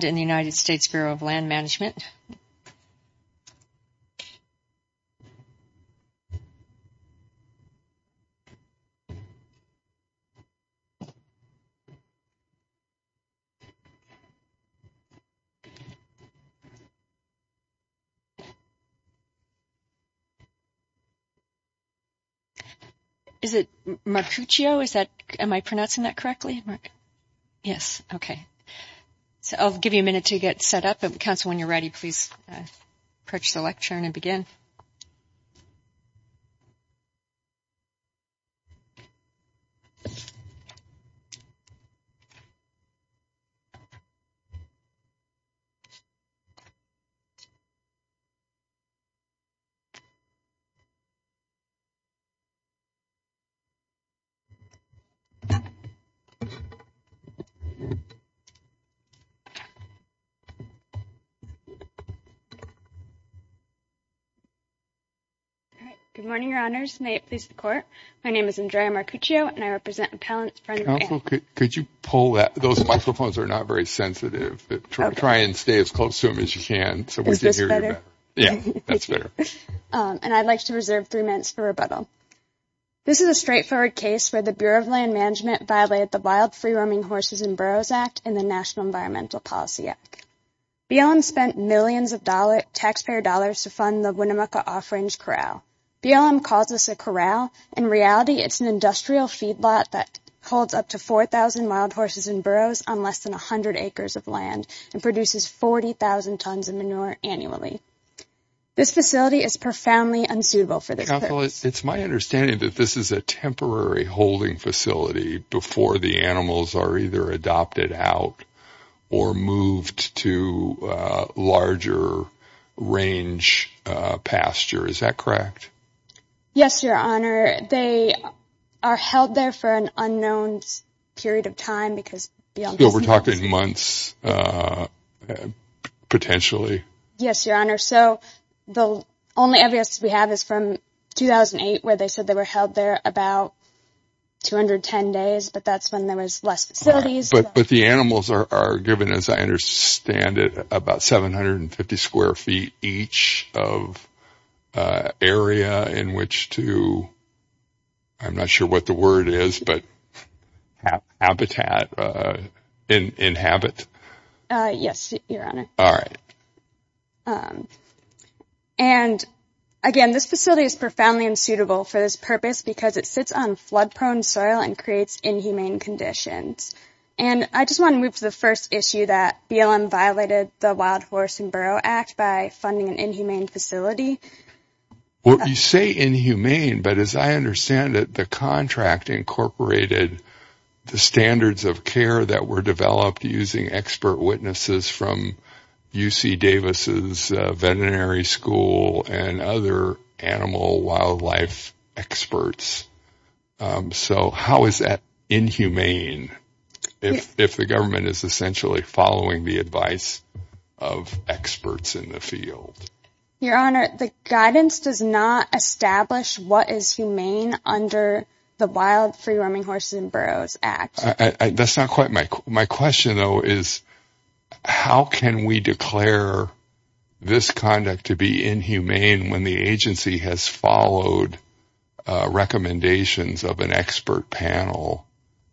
and the United States Bureau of Land Management. Is it Marcuccio? Am I pronouncing that correctly? Yes, okay. So I'll give you a minute to get set up. Counsel, when you're ready, please approach the lectern and begin. Good morning, Your Honors. May it please the Court. My name is Andrea Marcuccio, and I represent Appellants, Friends, and Family. Counsel, could you pull that? Those microphones are not very sensitive. Try and stay as close to them as you can. Is this better? Yeah, that's better. And I'd like to reserve three minutes for rebuttal. This is a straightforward case where the Bureau of Land Management violated the Wild Free-Roaming Horses and Burros Act and the National Environmental Policy Act. BLM spent millions of taxpayer dollars to fund the Winnemucca Off-Range Corral. BLM calls this a corral. In reality, it's an industrial feedlot that holds up to 4,000 wild horses and burros on less than 100 acres of land and produces 40,000 tons of manure annually. This facility is profoundly unsuitable for this purpose. Counsel, it's my understanding that this is a temporary holding facility before the animals are either adopted out or moved to a larger range pasture. Is that correct? Yes, Your Honor. They are held there for an unknown period of time because beyond the snow… So we're talking months, potentially? Yes, Your Honor. So the only evidence we have is from 2008 where they said they were held there about 210 days, but that's when there was less facilities. But the animals are given, as I understand it, about 750 square feet each of area in which to, I'm not sure what the word is, but habitat, inhabit. Yes, Your Honor. And again, this facility is profoundly unsuitable for this purpose because it sits on flood-prone soil and creates inhumane conditions. And I just want to move to the first issue that BLM violated the Wild Horse and Burro Act by funding an inhumane facility. Well, you say inhumane, but as I understand it, the contract incorporated the standards of care that were developed using expert witnesses from UC Davis's veterinary school and other animal wildlife experts. So how is that inhumane if the government is essentially following the advice of experts in the field? Your Honor, the guidance does not establish what is humane under the Wild Free Roaming Horses and Burros Act. That's not quite my question. My question, though, is how can we declare this conduct to be inhumane when the agency has followed recommendations of an expert panel?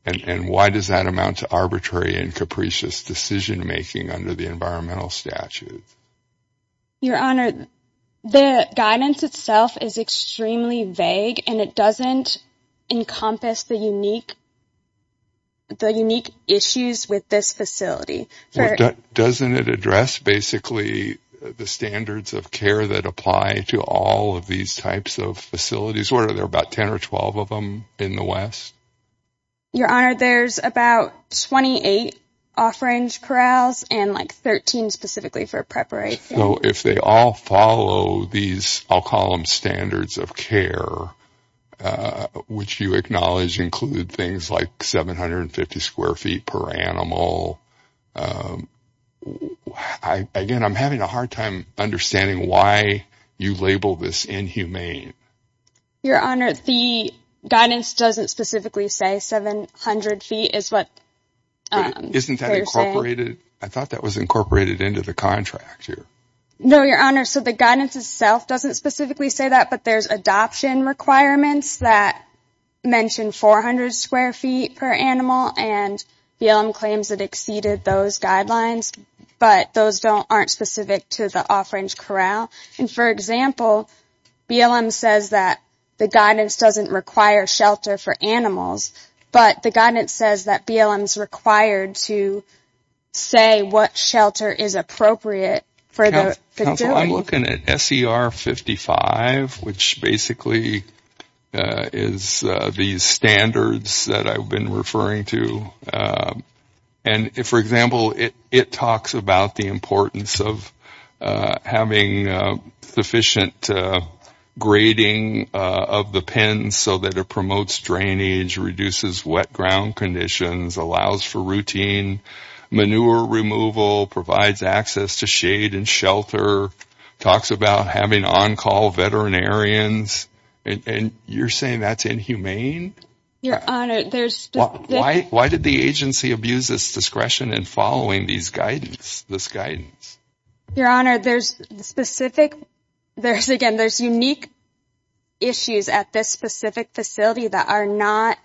And why does that amount to arbitrary and capricious decision-making under the environmental statute? Your Honor, the guidance itself is extremely vague, and it doesn't encompass the unique issues with this facility. Doesn't it address basically the standards of care that apply to all of these types of facilities? What are there, about 10 or 12 of them in the West? Your Honor, there's about 28 off-range corrals and like 13 specifically for preparation. So if they all follow these, I'll call them standards of care, which you acknowledge include things like 750 square feet per animal. Again, I'm having a hard time understanding why you label this inhumane. Your Honor, the guidance doesn't specifically say 700 feet is what they're saying. Isn't that incorporated? I thought that was incorporated into the contract here. No, Your Honor, so the guidance itself doesn't specifically say that, but there's adoption requirements that mention 400 square feet per animal, and BLM claims it exceeded those guidelines, but those aren't specific to the off-range corral. For example, BLM says that the guidance doesn't require shelter for animals, but the guidance says that BLM is required to say what shelter is appropriate for the facility. Counsel, I'm looking at SER 55, which basically is these standards that I've been referring to. For example, it talks about the importance of having sufficient grading of the pens so that it promotes drainage, reduces wet ground conditions, allows for routine manure removal, provides access to shade and shelter, talks about having on-call veterinarians, and you're saying that's inhumane? Your Honor, there's... Why did the agency abuse its discretion in following this guidance? Your Honor, there's unique issues at this specific facility that are not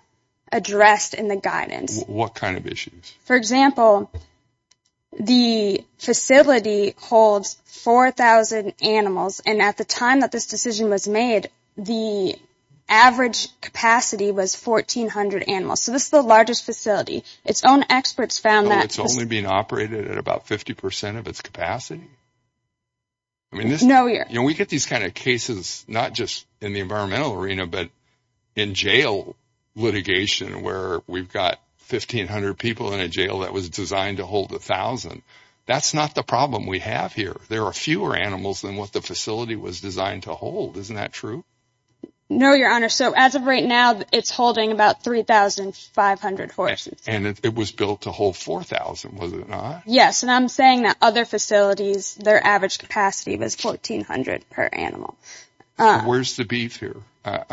addressed in the guidance. What kind of issues? For example, the facility holds 4,000 animals, and at the time that this decision was made, the average capacity was 1,400 animals. So this is the largest facility. Its own experts found that... So it's only being operated at about 50% of its capacity? No, Your Honor. We get these kind of cases not just in the environmental arena but in jail litigation where we've got 1,500 people in a jail that was designed to hold 1,000. That's not the problem we have here. There are fewer animals than what the facility was designed to hold. Isn't that true? No, Your Honor. So as of right now, it's holding about 3,500 horses. And it was built to hold 4,000, was it not? Yes, and I'm saying that other facilities, their average capacity was 1,400 per animal. Where's the beef here?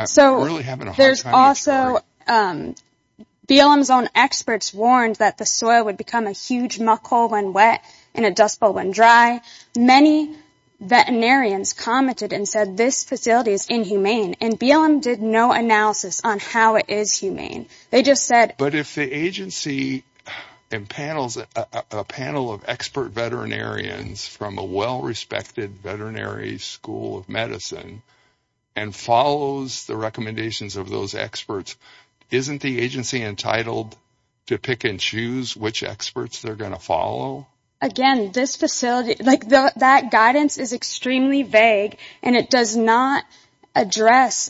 So there's also BLM's own experts warned that the soil would become a huge muck hole when wet and a dust bowl when dry. Many veterinarians commented and said this facility is inhumane, and BLM did no analysis on how it is humane. They just said... But if the agency impanels a panel of expert veterinarians from a well-respected veterinary school of medicine and follows the recommendations of those experts, isn't the agency entitled to pick and choose which experts they're going to follow? Again, this facility, like that guidance is extremely vague, and it does not address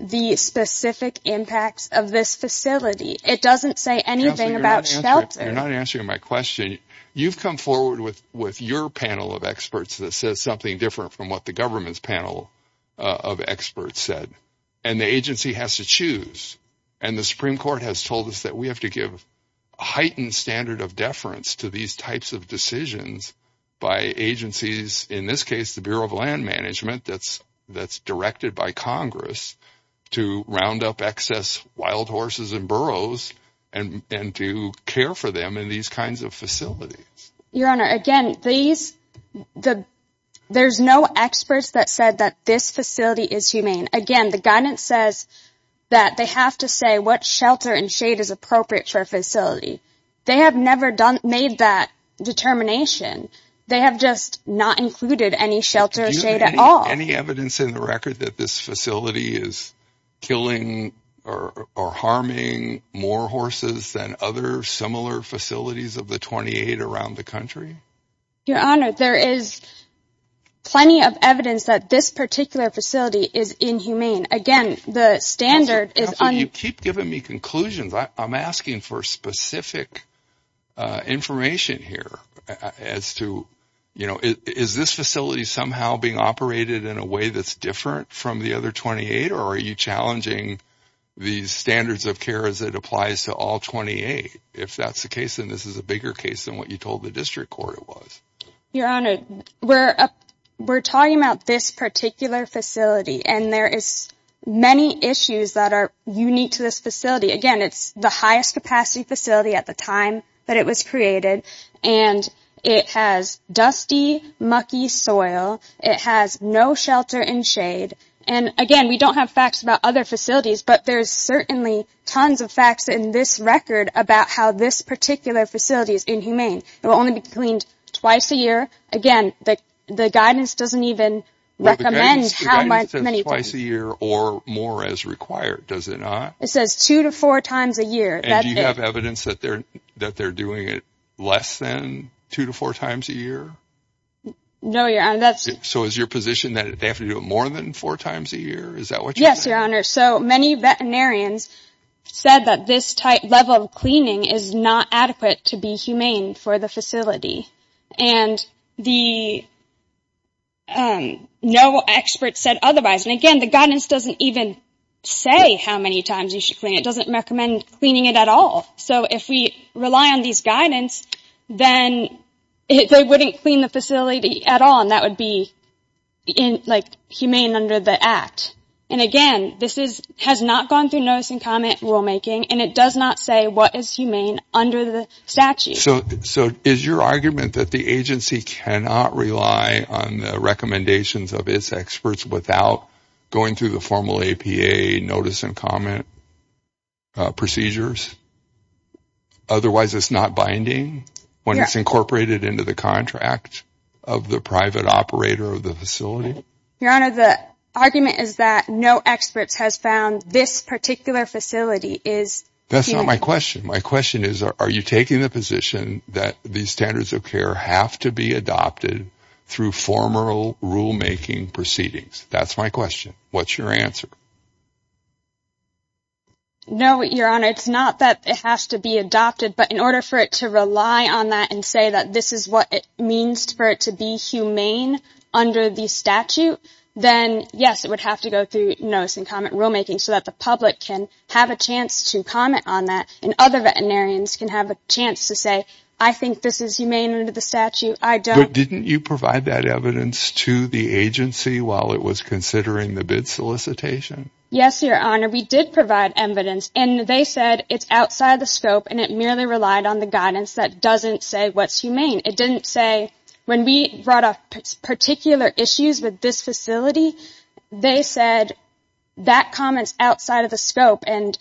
the specific impacts of this facility. It doesn't say anything about shelter. Counselor, you're not answering my question. You've come forward with your panel of experts that says something different from what the government's panel of experts said, and the agency has to choose. And the Supreme Court has told us that we have to give a heightened standard of decisions by agencies, in this case the Bureau of Land Management that's directed by Congress to round up excess wild horses and burros and to care for them in these kinds of facilities. Your Honor, again, there's no experts that said that this facility is humane. Again, the guidance says that they have to say what shelter and shade is appropriate for a facility. They have never made that determination. They have just not included any shelter or shade at all. Any evidence in the record that this facility is killing or harming more horses than other similar facilities of the 28 around the country? Your Honor, there is plenty of evidence that this particular facility is inhumane. Again, the standard is un- Counselor, you keep giving me conclusions. I'm asking for specific information here as to, you know, is this facility somehow being operated in a way that's different from the other 28, or are you challenging the standards of care as it applies to all 28? If that's the case, then this is a bigger case than what you told the district court it was. Your Honor, we're talking about this particular facility, and there is many issues that are unique to this facility. Again, it's the highest capacity facility at the time that it was created, and it has dusty, mucky soil. It has no shelter in shade. And again, we don't have facts about other facilities, but there's certainly tons of facts in this record about how this particular facility is inhumane. It will only be cleaned twice a year. Again, the guidance doesn't even recommend how many times. The guidance says twice a year or more as required, does it not? It says two to four times a year. And do you have evidence that they're doing it less than two to four times a year? No, Your Honor. So is your position that they have to do it more than four times a year? Is that what you're saying? Yes, Your Honor. So many veterinarians said that this level of cleaning is not adequate to be humane for the facility, and no expert said otherwise. And again, the guidance doesn't even say how many times you should clean it. It doesn't recommend cleaning it at all. So if we rely on these guidance, then they wouldn't clean the facility at all, and that would be humane under the Act. And again, this has not gone through notice and comment rulemaking, and it does not say what is humane under the statute. So is your argument that the agency cannot rely on the recommendations of its experts without going through the formal APA notice and comment procedures? Otherwise it's not binding when it's incorporated into the contract of the private operator of the facility? Your Honor, the argument is that no expert has found this particular facility is humane. That's not my question. My question is are you taking the position that these standards of care have to be adopted through formal rulemaking proceedings? That's my question. What's your answer? No, Your Honor, it's not that it has to be adopted, but in order for it to rely on that and say that this is what it means for it to be humane under the statute, then, yes, it would have to go through notice and comment rulemaking so that the public can have a chance to comment on that and other veterinarians can have a chance to say, I think this is humane under the statute. But didn't you provide that evidence to the agency while it was considering the bid solicitation? Yes, Your Honor, we did provide evidence, and they said it's outside the scope and it merely relied on the guidance that doesn't say what's humane. It didn't say when we brought up particular issues with this facility, they said that comment's outside of the scope and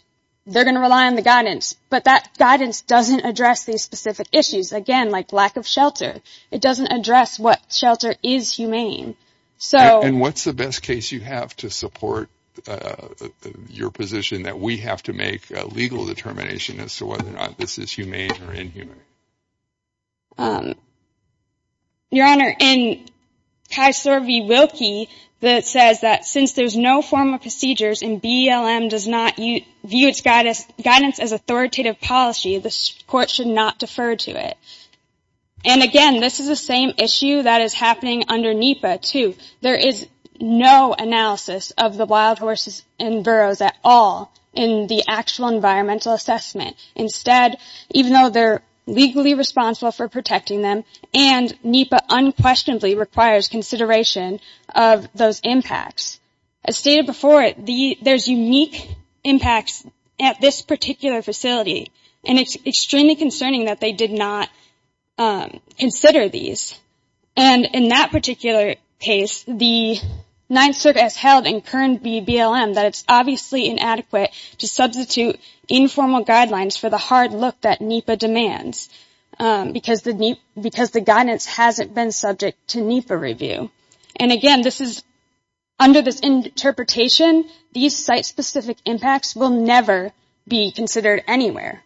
they're going to rely on the guidance. But that guidance doesn't address these specific issues, again, like lack of shelter. It doesn't address what shelter is humane. And what's the best case you have to support your position that we have to make a legal determination as to whether or not this is humane or inhumane? Your Honor, in Kaiser v. Wilkie, it says that since there's no form of procedures and BELM does not view its guidance as authoritative policy, the court should not defer to it. And again, this is the same issue that is happening under NEPA, too. There is no analysis of the wild horses in Burroughs at all in the actual environmental assessment. Instead, even though they're legally responsible for protecting them, and NEPA unquestionably requires consideration of those impacts. As stated before, there's unique impacts at this particular facility, and it's extremely concerning that they did not consider these. And in that particular case, the Ninth Circuit has held in current BELM that it's obviously inadequate to substitute informal guidelines for the hard look that NEPA demands, because the guidance hasn't been subject to NEPA review. And again, under this interpretation, these site-specific impacts will never be considered anywhere.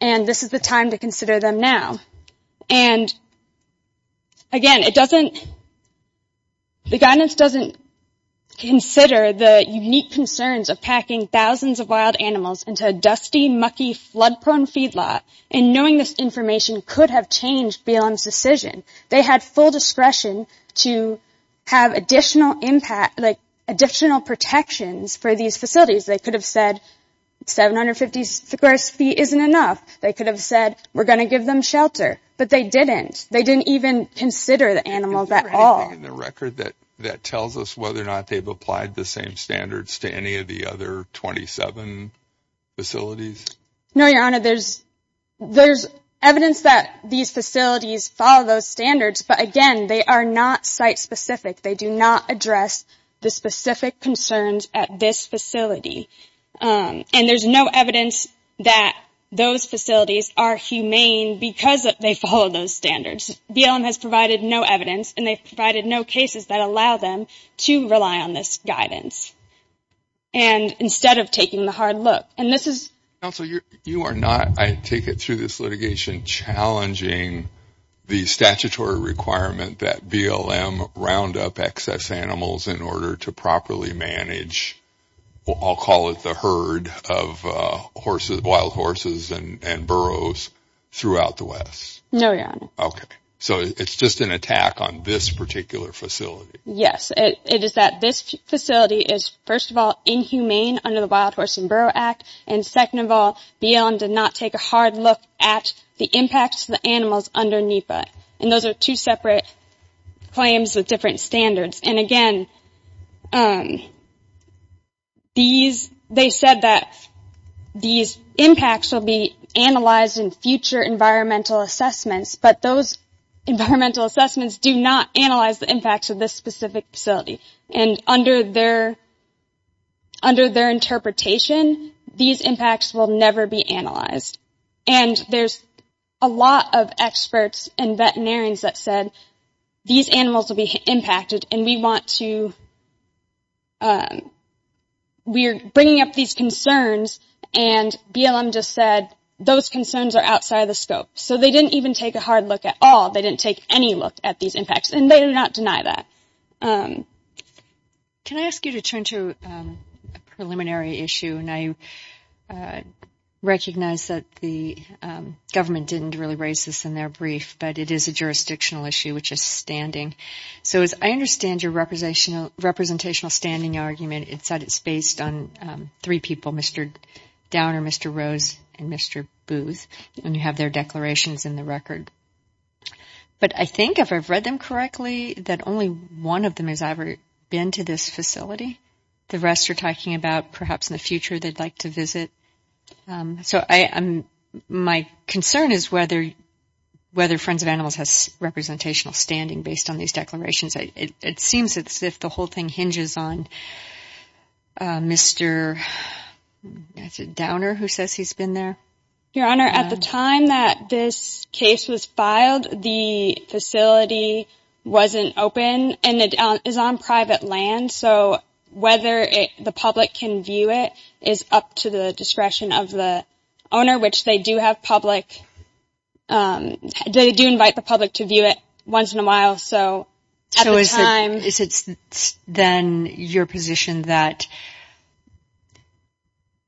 And this is the time to consider them now. And again, the guidance doesn't consider the unique concerns of packing thousands of wild animals into a dusty, mucky, flood-prone feedlot, and knowing this information could have changed BELM's decision. They had full discretion to have additional protections for these facilities. They could have said, 750 square feet isn't enough. They could have said, we're going to give them shelter. But they didn't. They didn't even consider the animals at all. Is there anything in the record that tells us whether or not they've applied the same standards to any of the other 27 facilities? No, Your Honor. There's evidence that these facilities follow those standards, but again, they are not site-specific. They do not address the specific concerns at this facility. And there's no evidence that those facilities are humane because they follow those standards. BELM has provided no evidence, and they've provided no cases that allow them to rely on this guidance, instead of taking the hard look. Counsel, you are not, I take it through this litigation, challenging the statutory requirement that BELM round up excess animals in order to properly manage, I'll call it the herd of wild horses and burros throughout the West. No, Your Honor. Okay. So it's just an attack on this particular facility. Yes. It is that this facility is, first of all, inhumane under the Wild Horse and Burro Act, and second of all, BELM did not take a hard look at the impacts to the animals under NEPA. And those are two separate claims with different standards. And again, they said that these impacts will be analyzed in future environmental assessments, but those environmental assessments do not analyze the impacts of this specific facility. And under their interpretation, these impacts will never be analyzed. And there's a lot of experts and veterinarians that said these animals will be impacted, and we want to, we're bringing up these concerns, and BELM just said those concerns are outside the scope. So they didn't even take a hard look at all. They didn't take any look at these impacts, and they do not deny that. Can I ask you to turn to a preliminary issue? And I recognize that the government didn't really raise this in their brief, but it is a jurisdictional issue, which is standing. So as I understand your representational standing argument, it's that it's based on three people, Mr. Downer, Mr. Rose, and Mr. Booth, and you have their declarations in the record. But I think if I've read them correctly, that only one of them has ever been to this facility. The rest are talking about perhaps in the future they'd like to visit. So my concern is whether Friends of Animals has representational standing based on these declarations. It seems as if the whole thing hinges on Mr. Downer, who says he's been there. Your Honor, at the time that this case was filed, the facility wasn't open, and it is on private land. So whether the public can view it is up to the discretion of the owner, which they do have public, they do invite the public to view it once in a while. So is it then your position that,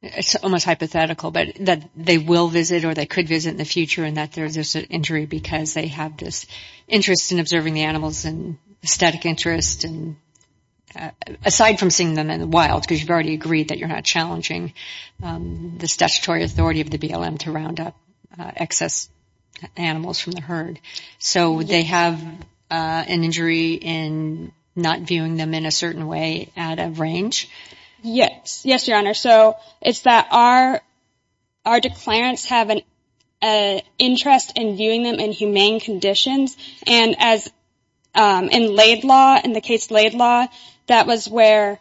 it's almost hypothetical, but that they will visit or they could visit in the future and that there's an injury because they have this interest in observing the animals and aesthetic interest, aside from seeing them in the wild, because you've already agreed that you're not challenging the statutory authority of the BLM to round up excess animals from the herd. So would they have an injury in not viewing them in a certain way at a range? Yes. Yes, Your Honor. So it's that our declarants have an interest in viewing them in humane conditions. And as in Laid Law, in the case Laid Law, that was where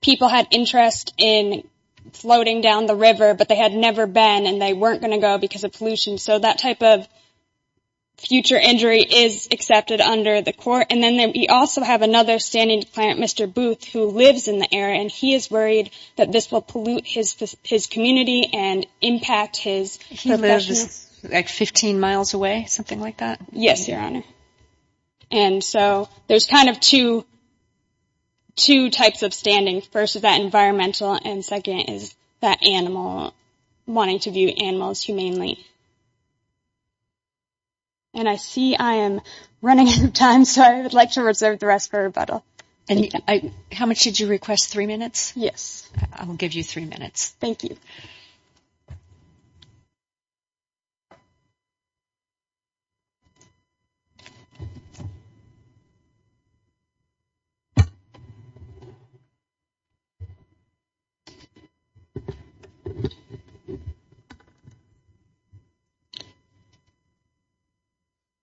people had interest in floating down the river, but they had never been and they weren't going to go because of pollution. So that type of future injury is accepted under the court. And then we also have another standing declarant, Mr. Booth, who lives in the area, and he is worried that this will pollute his community and impact his— He lives like 15 miles away, something like that? Yes, Your Honor. And so there's kind of two types of standing. First is that environmental, and second is that animal, wanting to view animals humanely. And I see I am running out of time, so I would like to reserve the rest for rebuttal. How much did you request? Three minutes? Yes. I will give you three minutes. Thank you.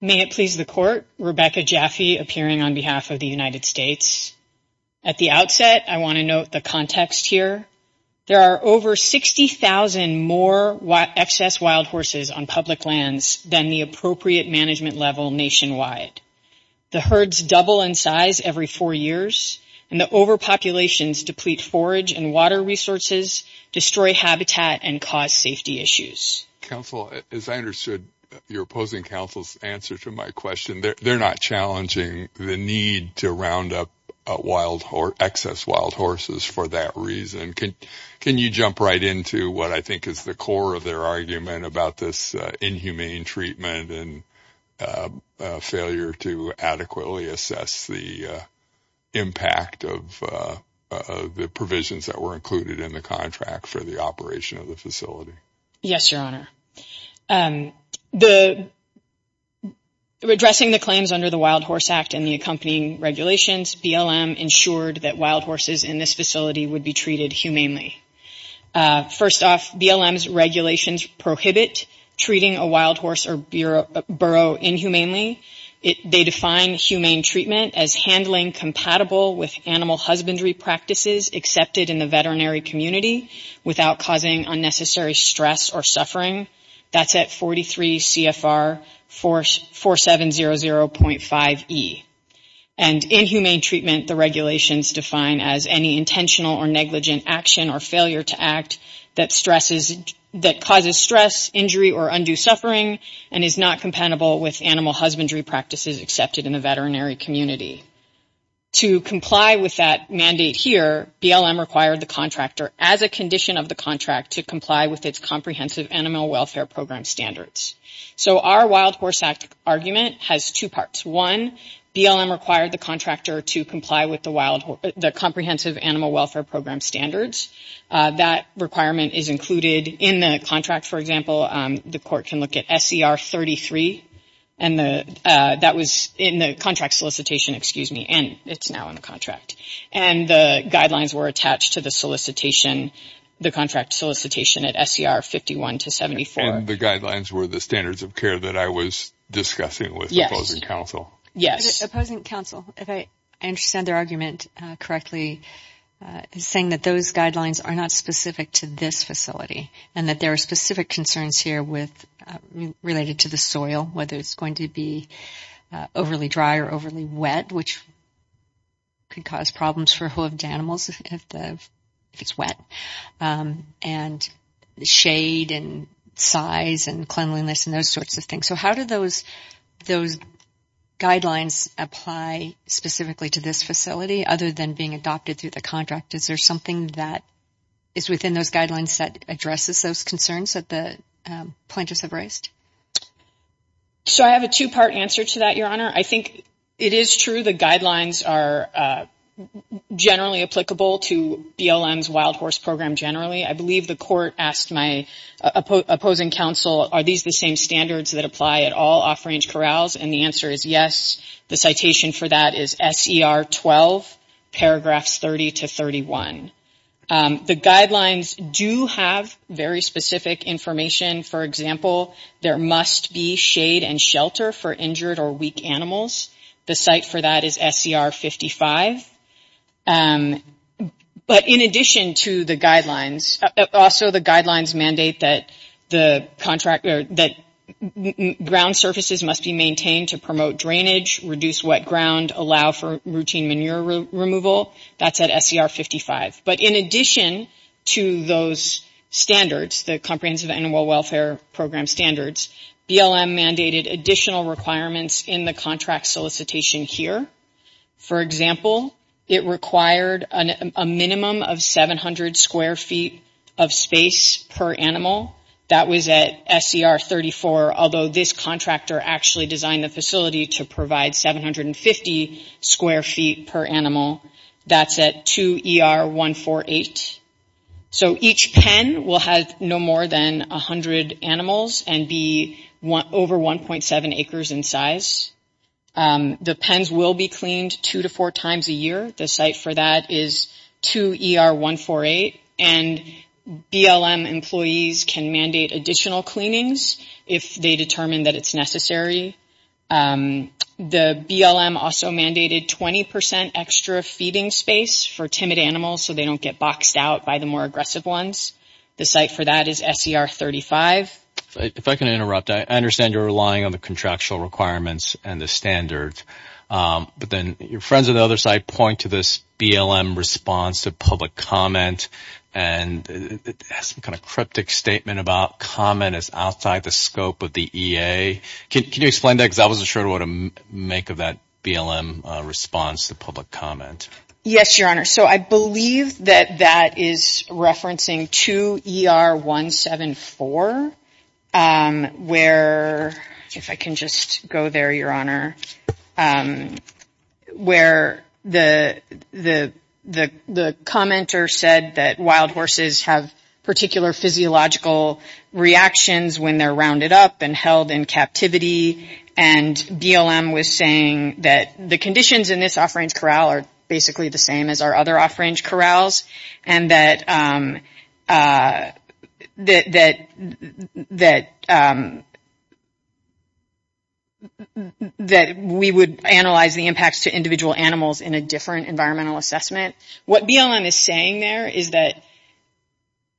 May it please the Court, Rebecca Jaffe appearing on behalf of the United States. At the outset, I want to note the context here. There are over 60,000 more excess wild horses on public lands than the appropriate management level nationwide. The herds double in size every four years, and the overpopulations deplete forage and water resources, destroy habitat, and cause safety issues. Counsel, as I understood your opposing counsel's answer to my question, they're not challenging the need to round up excess wild horses for that reason. Can you jump right into what I think is the core of their argument about this inhumane treatment and failure to adequately assess the impact of the provisions that were included in the contract for the operation of the facility? Yes, Your Honor. Addressing the claims under the Wild Horse Act and the accompanying regulations, BLM ensured that wild horses in this facility would be treated humanely. First off, BLM's regulations prohibit treating a wild horse or burrow inhumanely. They define humane treatment as handling compatible with animal husbandry practices accepted in the veterinary community without causing unnecessary stress or suffering. That's at 43 CFR 4700.5E. And inhumane treatment, the regulations define as any intentional or negligent action or failure to act that causes stress, injury, or undue suffering, and is not compatible with animal husbandry practices accepted in the veterinary community. To comply with that mandate here, BLM required the contractor, as a condition of the contract, to comply with its Comprehensive Animal Welfare Program standards. So our Wild Horse Act argument has two parts. One, BLM required the contractor to comply with the Comprehensive Animal Welfare Program standards. That requirement is included in the contract. For example, the court can look at SCR 33 in the contract solicitation, and it's now in the contract. And the guidelines were attached to the contract solicitation at SCR 51-74. And the guidelines were the standards of care that I was discussing with opposing counsel. Yes. Opposing counsel, if I understand their argument correctly, is saying that those guidelines are not specific to this facility and that there are specific concerns here related to the soil, whether it's going to be overly dry or overly wet, which could cause problems for hooved animals if it's wet, and shade and size and cleanliness and those sorts of things. So how do those guidelines apply specifically to this facility, other than being adopted through the contract? Is there something that is within those guidelines that addresses those concerns that the plaintiffs have raised? So I have a two-part answer to that, Your Honor. I think it is true the guidelines are generally applicable to BLM's Wild Horse Program generally. I believe the court asked my opposing counsel, are these the same standards that apply at all off-range corrals? And the answer is yes. The citation for that is S.E.R. 12, paragraphs 30 to 31. The guidelines do have very specific information. For example, there must be shade and shelter for injured or weak animals. The site for that is S.E.R. 55. But in addition to the guidelines, also the guidelines mandate that ground surfaces must be maintained to promote drainage, reduce wet ground, allow for routine manure removal. That's at S.E.R. 55. But in addition to those standards, the Comprehensive Animal Welfare Program standards, BLM mandated additional requirements in the contract solicitation here. For example, it required a minimum of 700 square feet of space per animal. That was at S.E.R. 34, although this contractor actually designed the facility to provide 750 square feet per animal. That's at 2ER 148. So each pen will have no more than 100 animals and be over 1.7 acres in size. The pens will be cleaned two to four times a year. The site for that is 2ER 148. And BLM employees can mandate additional cleanings if they determine that it's necessary. The BLM also mandated 20 percent extra feeding space for timid animals so they don't get boxed out by the more aggressive ones. The site for that is S.E.R. 35. If I can interrupt. I understand you're relying on the contractual requirements and the standards. But then your friends on the other side point to this BLM response to public comment and it has some kind of cryptic statement about comment is outside the scope of the EA. Can you explain that? Because I wasn't sure what to make of that BLM response to public comment. Yes, Your Honor. So I believe that that is referencing 2ER 174 where, if I can just go there, Your Honor, where the commenter said that wild horses have particular physiological reactions when they're rounded up and held in captivity. And BLM was saying that the conditions in this off-range corral are basically the same as our other off-range corrals and that we would analyze the impacts to individual animals in a different environmental assessment. What BLM is saying there is that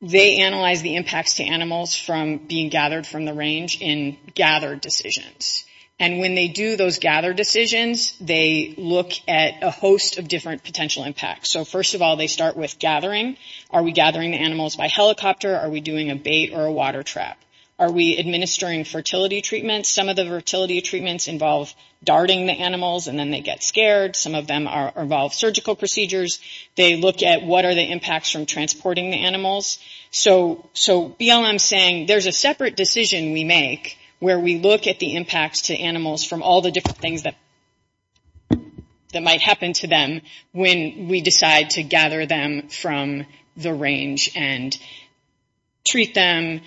they analyze the impacts to animals from being gathered from the range in gathered decisions. And when they do those gathered decisions, they look at a host of different potential impacts. So first of all, they start with gathering. Are we gathering the animals by helicopter? Are we doing a bait or a water trap? Are we administering fertility treatments? Some of the fertility treatments involve darting the animals and then they get scared. Some of them involve surgical procedures. They look at what are the impacts from transporting the animals. So BLM is saying there's a separate decision we make where we look at the impacts to animals from all the different things that might happen to them when we decide to gather them from the range and treat them,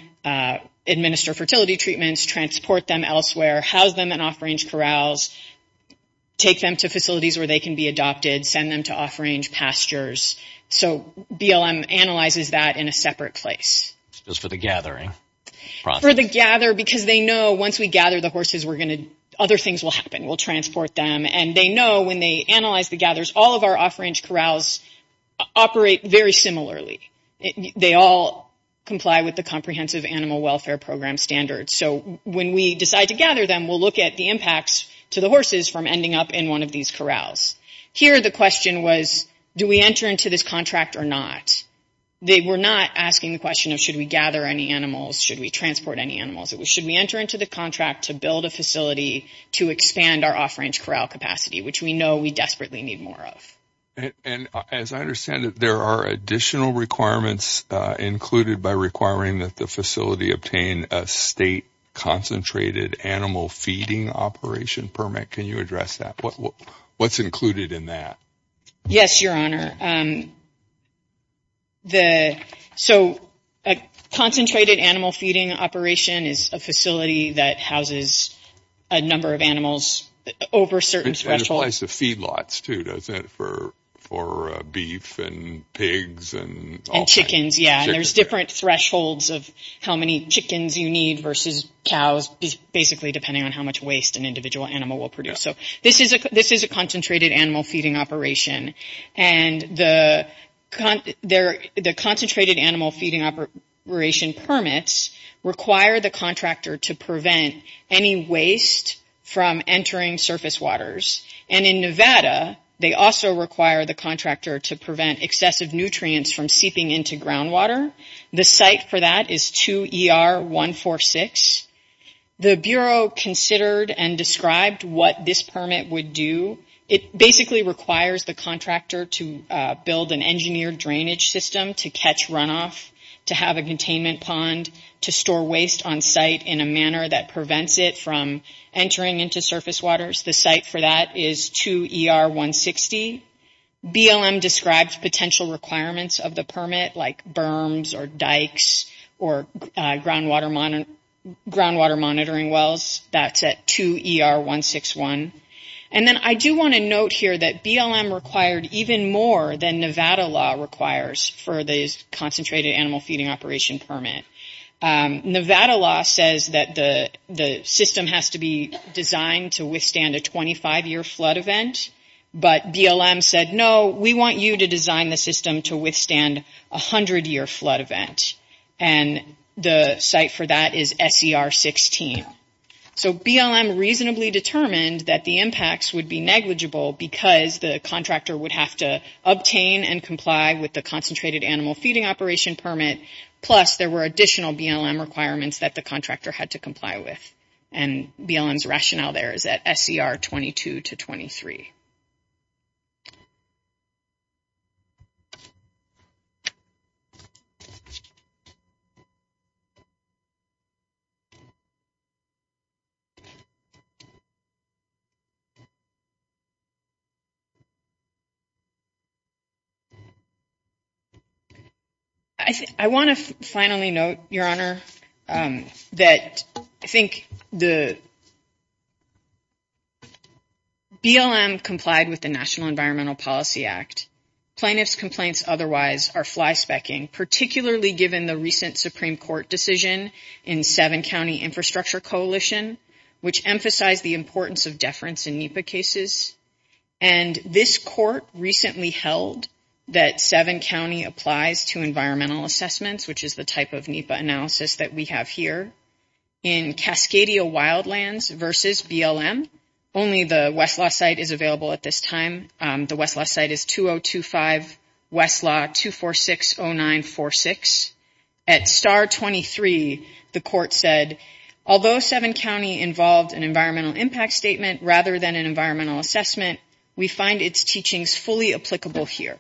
administer fertility treatments, transport them elsewhere, house them in off-range corrals, take them to facilities where they can be adopted, send them to off-range pastures. So BLM analyzes that in a separate place. Just for the gathering process. For the gather because they know once we gather the horses, other things will happen. We'll transport them. And they know when they analyze the gathers, all of our off-range corrals operate very similarly. They all comply with the Comprehensive Animal Welfare Program standards. So when we decide to gather them, we'll look at the impacts to the horses from ending up in one of these corrals. Here the question was do we enter into this contract or not? They were not asking the question of should we gather any animals, should we transport any animals. It was should we enter into the contract to build a facility to expand our off-range corral capacity, which we know we desperately need more of. And as I understand it, there are additional requirements included by requiring that the facility obtain a state concentrated animal feeding operation permit. Can you address that? What's included in that? Yes, Your Honor. So a concentrated animal feeding operation is a facility that houses a number of animals over certain thresholds. It applies to feedlots too, doesn't it? For beef and pigs and all kinds. And chickens, yeah. And there's different thresholds of how many chickens you need versus cows, just basically depending on how much waste an individual animal will produce. So this is a concentrated animal feeding operation. And the concentrated animal feeding operation permits require the contractor to prevent any waste from entering surface waters. And in Nevada, they also require the contractor to prevent excessive nutrients from seeping into groundwater. The site for that is 2 ER 146. The Bureau considered and described what this permit would do. It basically requires the contractor to build an engineered drainage system to catch runoff, to have a containment pond, to store waste on site in a manner that prevents it from entering into surface waters. The site for that is 2 ER 160. BLM described potential requirements of the permit, like berms or dikes or groundwater monitoring wells. That's at 2 ER 161. And then I do want to note here that BLM required even more than Nevada law requires for the concentrated animal feeding operation permit. Nevada law says that the system has to be designed to withstand a 25-year flood event, but BLM said, no, we want you to design the system to withstand a 100-year flood event. And the site for that is SCR 16. So BLM reasonably determined that the impacts would be negligible because the contractor would have to obtain and comply with the concentrated animal feeding operation permit, plus there were additional BLM requirements that the contractor had to comply with. And BLM's rationale there is at SCR 22 to 23. I want to finally note, Your Honor, that I think the BLM complied with the National Environmental Policy Act. Plaintiff's complaints otherwise are flyspecking, particularly given the recent Supreme Court decision in Seven County Infrastructure Coalition, which emphasized the importance of deference in NEPA cases. And this court recently held that Seven County applies to environmental assessments, which is the type of NEPA analysis that we have here, in Cascadia Wildlands versus BLM. Only the Westlaw site is available at this time. The Westlaw site is 2025 Westlaw 2460946. At SCR 23, the court said, although Seven County involved an environmental impact statement rather than an environmental assessment, we find its teachings fully applicable here.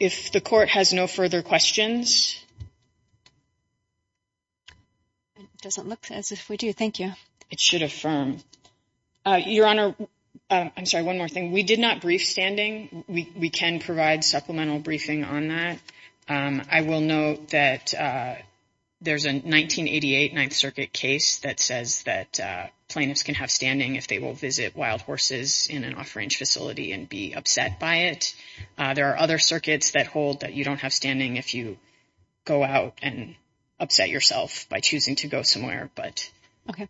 If the court has no further questions. It doesn't look as if we do. Thank you. It should affirm. Your Honor, I'm sorry. One more thing. We did not brief standing. We can provide supplemental briefing on that. I will note that we did not brief standing. There's a 1988 Ninth Circuit case that says that plaintiffs can have standing if they will visit wild horses in an off-range facility and be upset by it. There are other circuits that hold that you don't have standing if you go out and upset yourself by choosing to go somewhere. But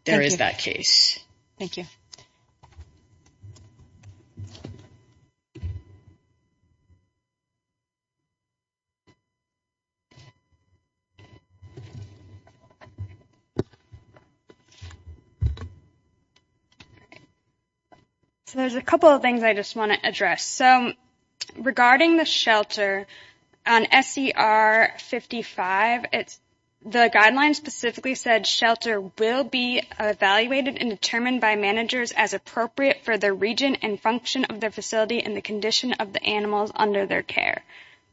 there is that case. Thank you. So there's a couple of things I just want to address. So regarding the shelter on SCR 55, it's the guidelines specifically said shelter will be evaluated and determined by managers as appropriate for their region and function of their facility and the condition of the animals under their care.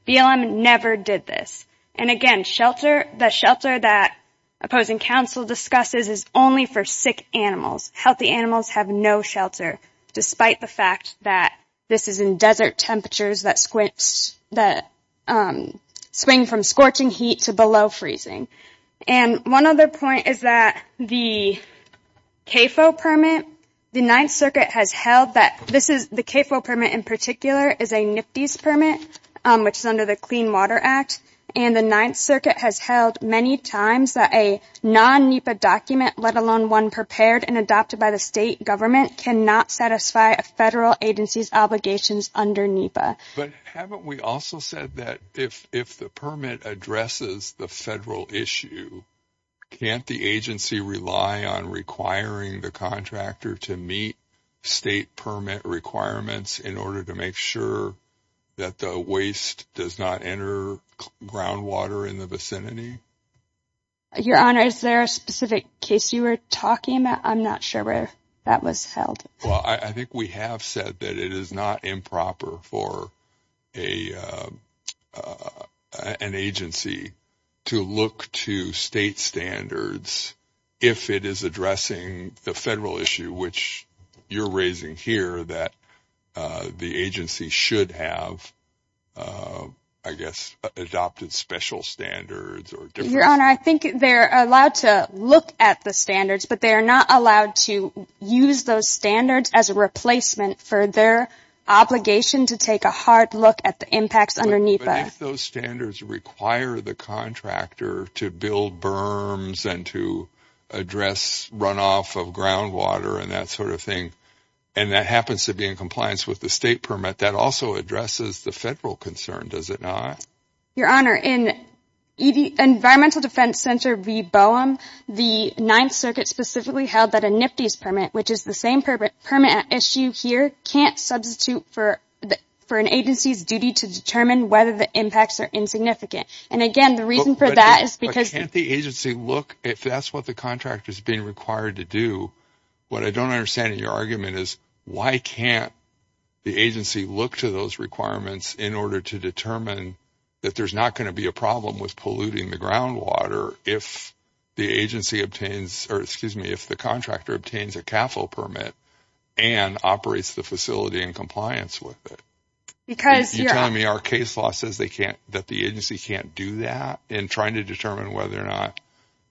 BLM never did this. And, again, the shelter that opposing counsel discusses is only for sick animals. Healthy animals have no shelter, despite the fact that this is in desert temperatures that swing from scorching heat to below freezing. And one other point is that the CAFO permit, the Ninth Circuit has held that this is a NPDES permit, which is under the Clean Water Act. And the Ninth Circuit has held many times that a non-NEPA document, let alone one prepared and adopted by the state government, cannot satisfy a federal agency's obligations under NEPA. But haven't we also said that if the permit addresses the federal issue, can't the agency rely on requiring the contractor to meet state permit requirements in order to make sure that the waste does not enter groundwater in the vicinity? Your Honor, is there a specific case you were talking about? I'm not sure where that was held. Well, I think we have said that it is not improper for an agency to look to state standards if it is addressing the federal issue, which you're raising here that the agency should have, I guess, adopted special standards or different. Your Honor, I think they're allowed to look at the standards, but they're not allowed to use those standards as a replacement for their obligation to take a hard look at the impacts under NEPA. But if those standards require the contractor to build berms and to address runoff of groundwater and that sort of thing, and that happens to be in compliance with the state permit, that also addresses the federal concern, does it not? Your Honor, in Environmental Defense Center v. BOEM, the Ninth Circuit specifically held that a NPDES permit, which is the same permit issue here, can't substitute for an agency's duty to determine whether the impacts are insignificant. And again, the reason for that is because the agency look, if that's what the contractor is being required to do, what I don't understand in your argument is why can't the agency look to those requirements in order to determine that there's not going to be a problem with polluting the groundwater if the agency obtains or, excuse me, if the contractor obtains a CAFL permit and operates the facility in compliance with it? Because you're telling me our case law says that the agency can't do that in trying to determine whether or not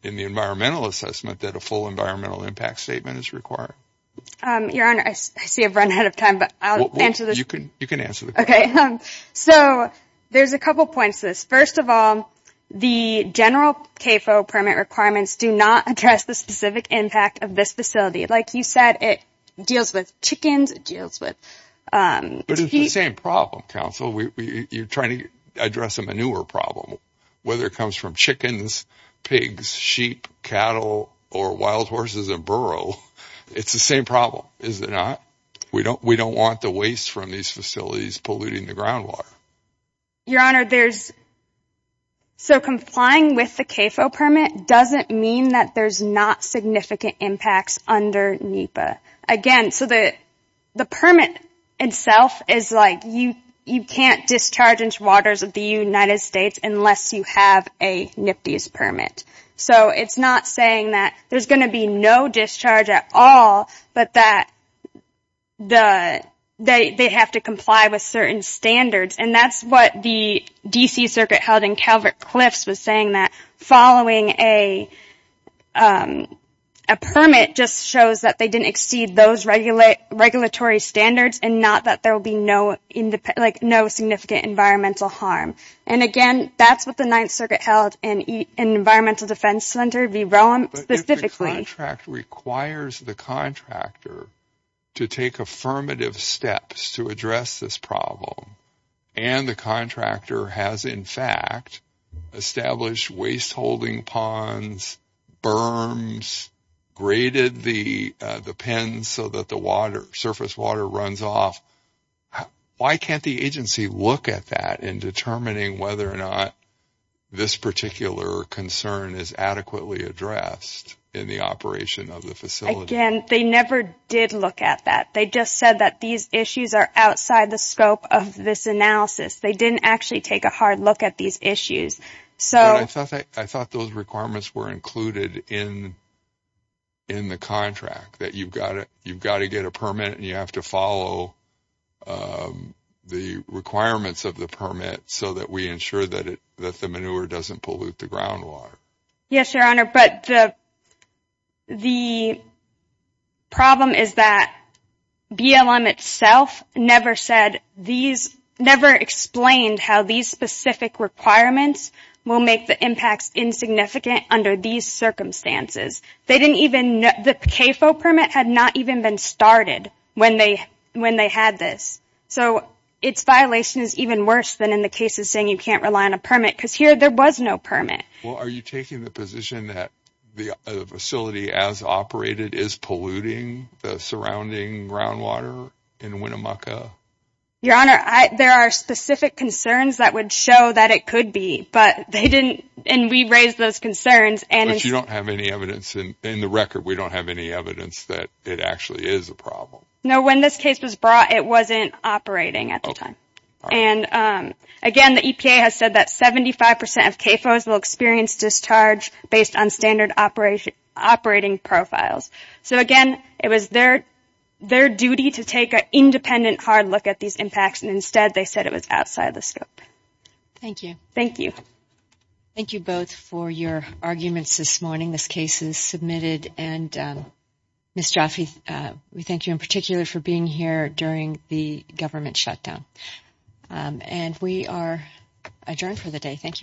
in the environmental assessment that a full environmental impact statement is required. Your Honor, I see I've run out of time, but I'll answer this. You can answer the question. Okay. So there's a couple points to this. First of all, the general CAFL permit requirements do not address the specific impact of this facility. Like you said, it deals with chickens, it deals with... But it's the same problem, Counsel. You're trying to address a manure problem. Whether it comes from chickens, pigs, sheep, cattle, or wild horses in burrow, it's the same problem, is it not? We don't want the waste from these facilities polluting the groundwater. Your Honor, there's... So complying with the CAFL permit doesn't mean that there's not significant impacts under NEPA. Again, so the permit itself is like you can't discharge into waters of the United States unless you have a NPDES permit. So it's not saying that there's going to be no discharge at all, but that they have to comply with certain standards. And that's what the D.C. Circuit held in Calvert-Cliffs was saying that following a permit just shows that they didn't exceed those regulatory standards and not that there will be no significant environmental harm. And, again, that's what the Ninth Circuit held in Environmental Defense Center v. Rowan specifically. But if the contract requires the contractor to take affirmative steps to address this problem and the contractor has, in fact, established waste-holding ponds, berms, graded the pens so that the surface water runs off, why can't the agency look at that in determining whether or not this particular concern is adequately addressed in the operation of the facility? Again, they never did look at that. They just said that these issues are outside the scope of this analysis. They didn't actually take a hard look at these issues. But I thought those requirements were included in the contract, that you've got to get a permit and you have to follow the requirements of the permit so that we ensure that the manure doesn't pollute the groundwater. Yes, Your Honor, but the problem is that BLM itself never said these ñ never explained how these specific requirements will make the impacts insignificant under these circumstances. They didn't even ñ the CAFO permit had not even been started when they had this. So its violation is even worse than in the case of saying you can't rely on a permit because here there was no permit. Well, are you taking the position that the facility as operated is polluting the surrounding groundwater in Winnemucca? Your Honor, there are specific concerns that would show that it could be, but they didn't ñ and we raised those concerns. But you don't have any evidence in the record. We don't have any evidence that it actually is a problem. No, when this case was brought, it wasn't operating at the time. And again, the EPA has said that 75 percent of CAFOs will experience discharge based on standard operating profiles. So, again, it was their duty to take an independent hard look at these impacts, and instead they said it was outside the scope. Thank you. Thank you. Thank you both for your arguments this morning, this case is submitted. And Ms. Jaffe, we thank you in particular for being here during the government shutdown. And we are adjourned for the day. Thank you.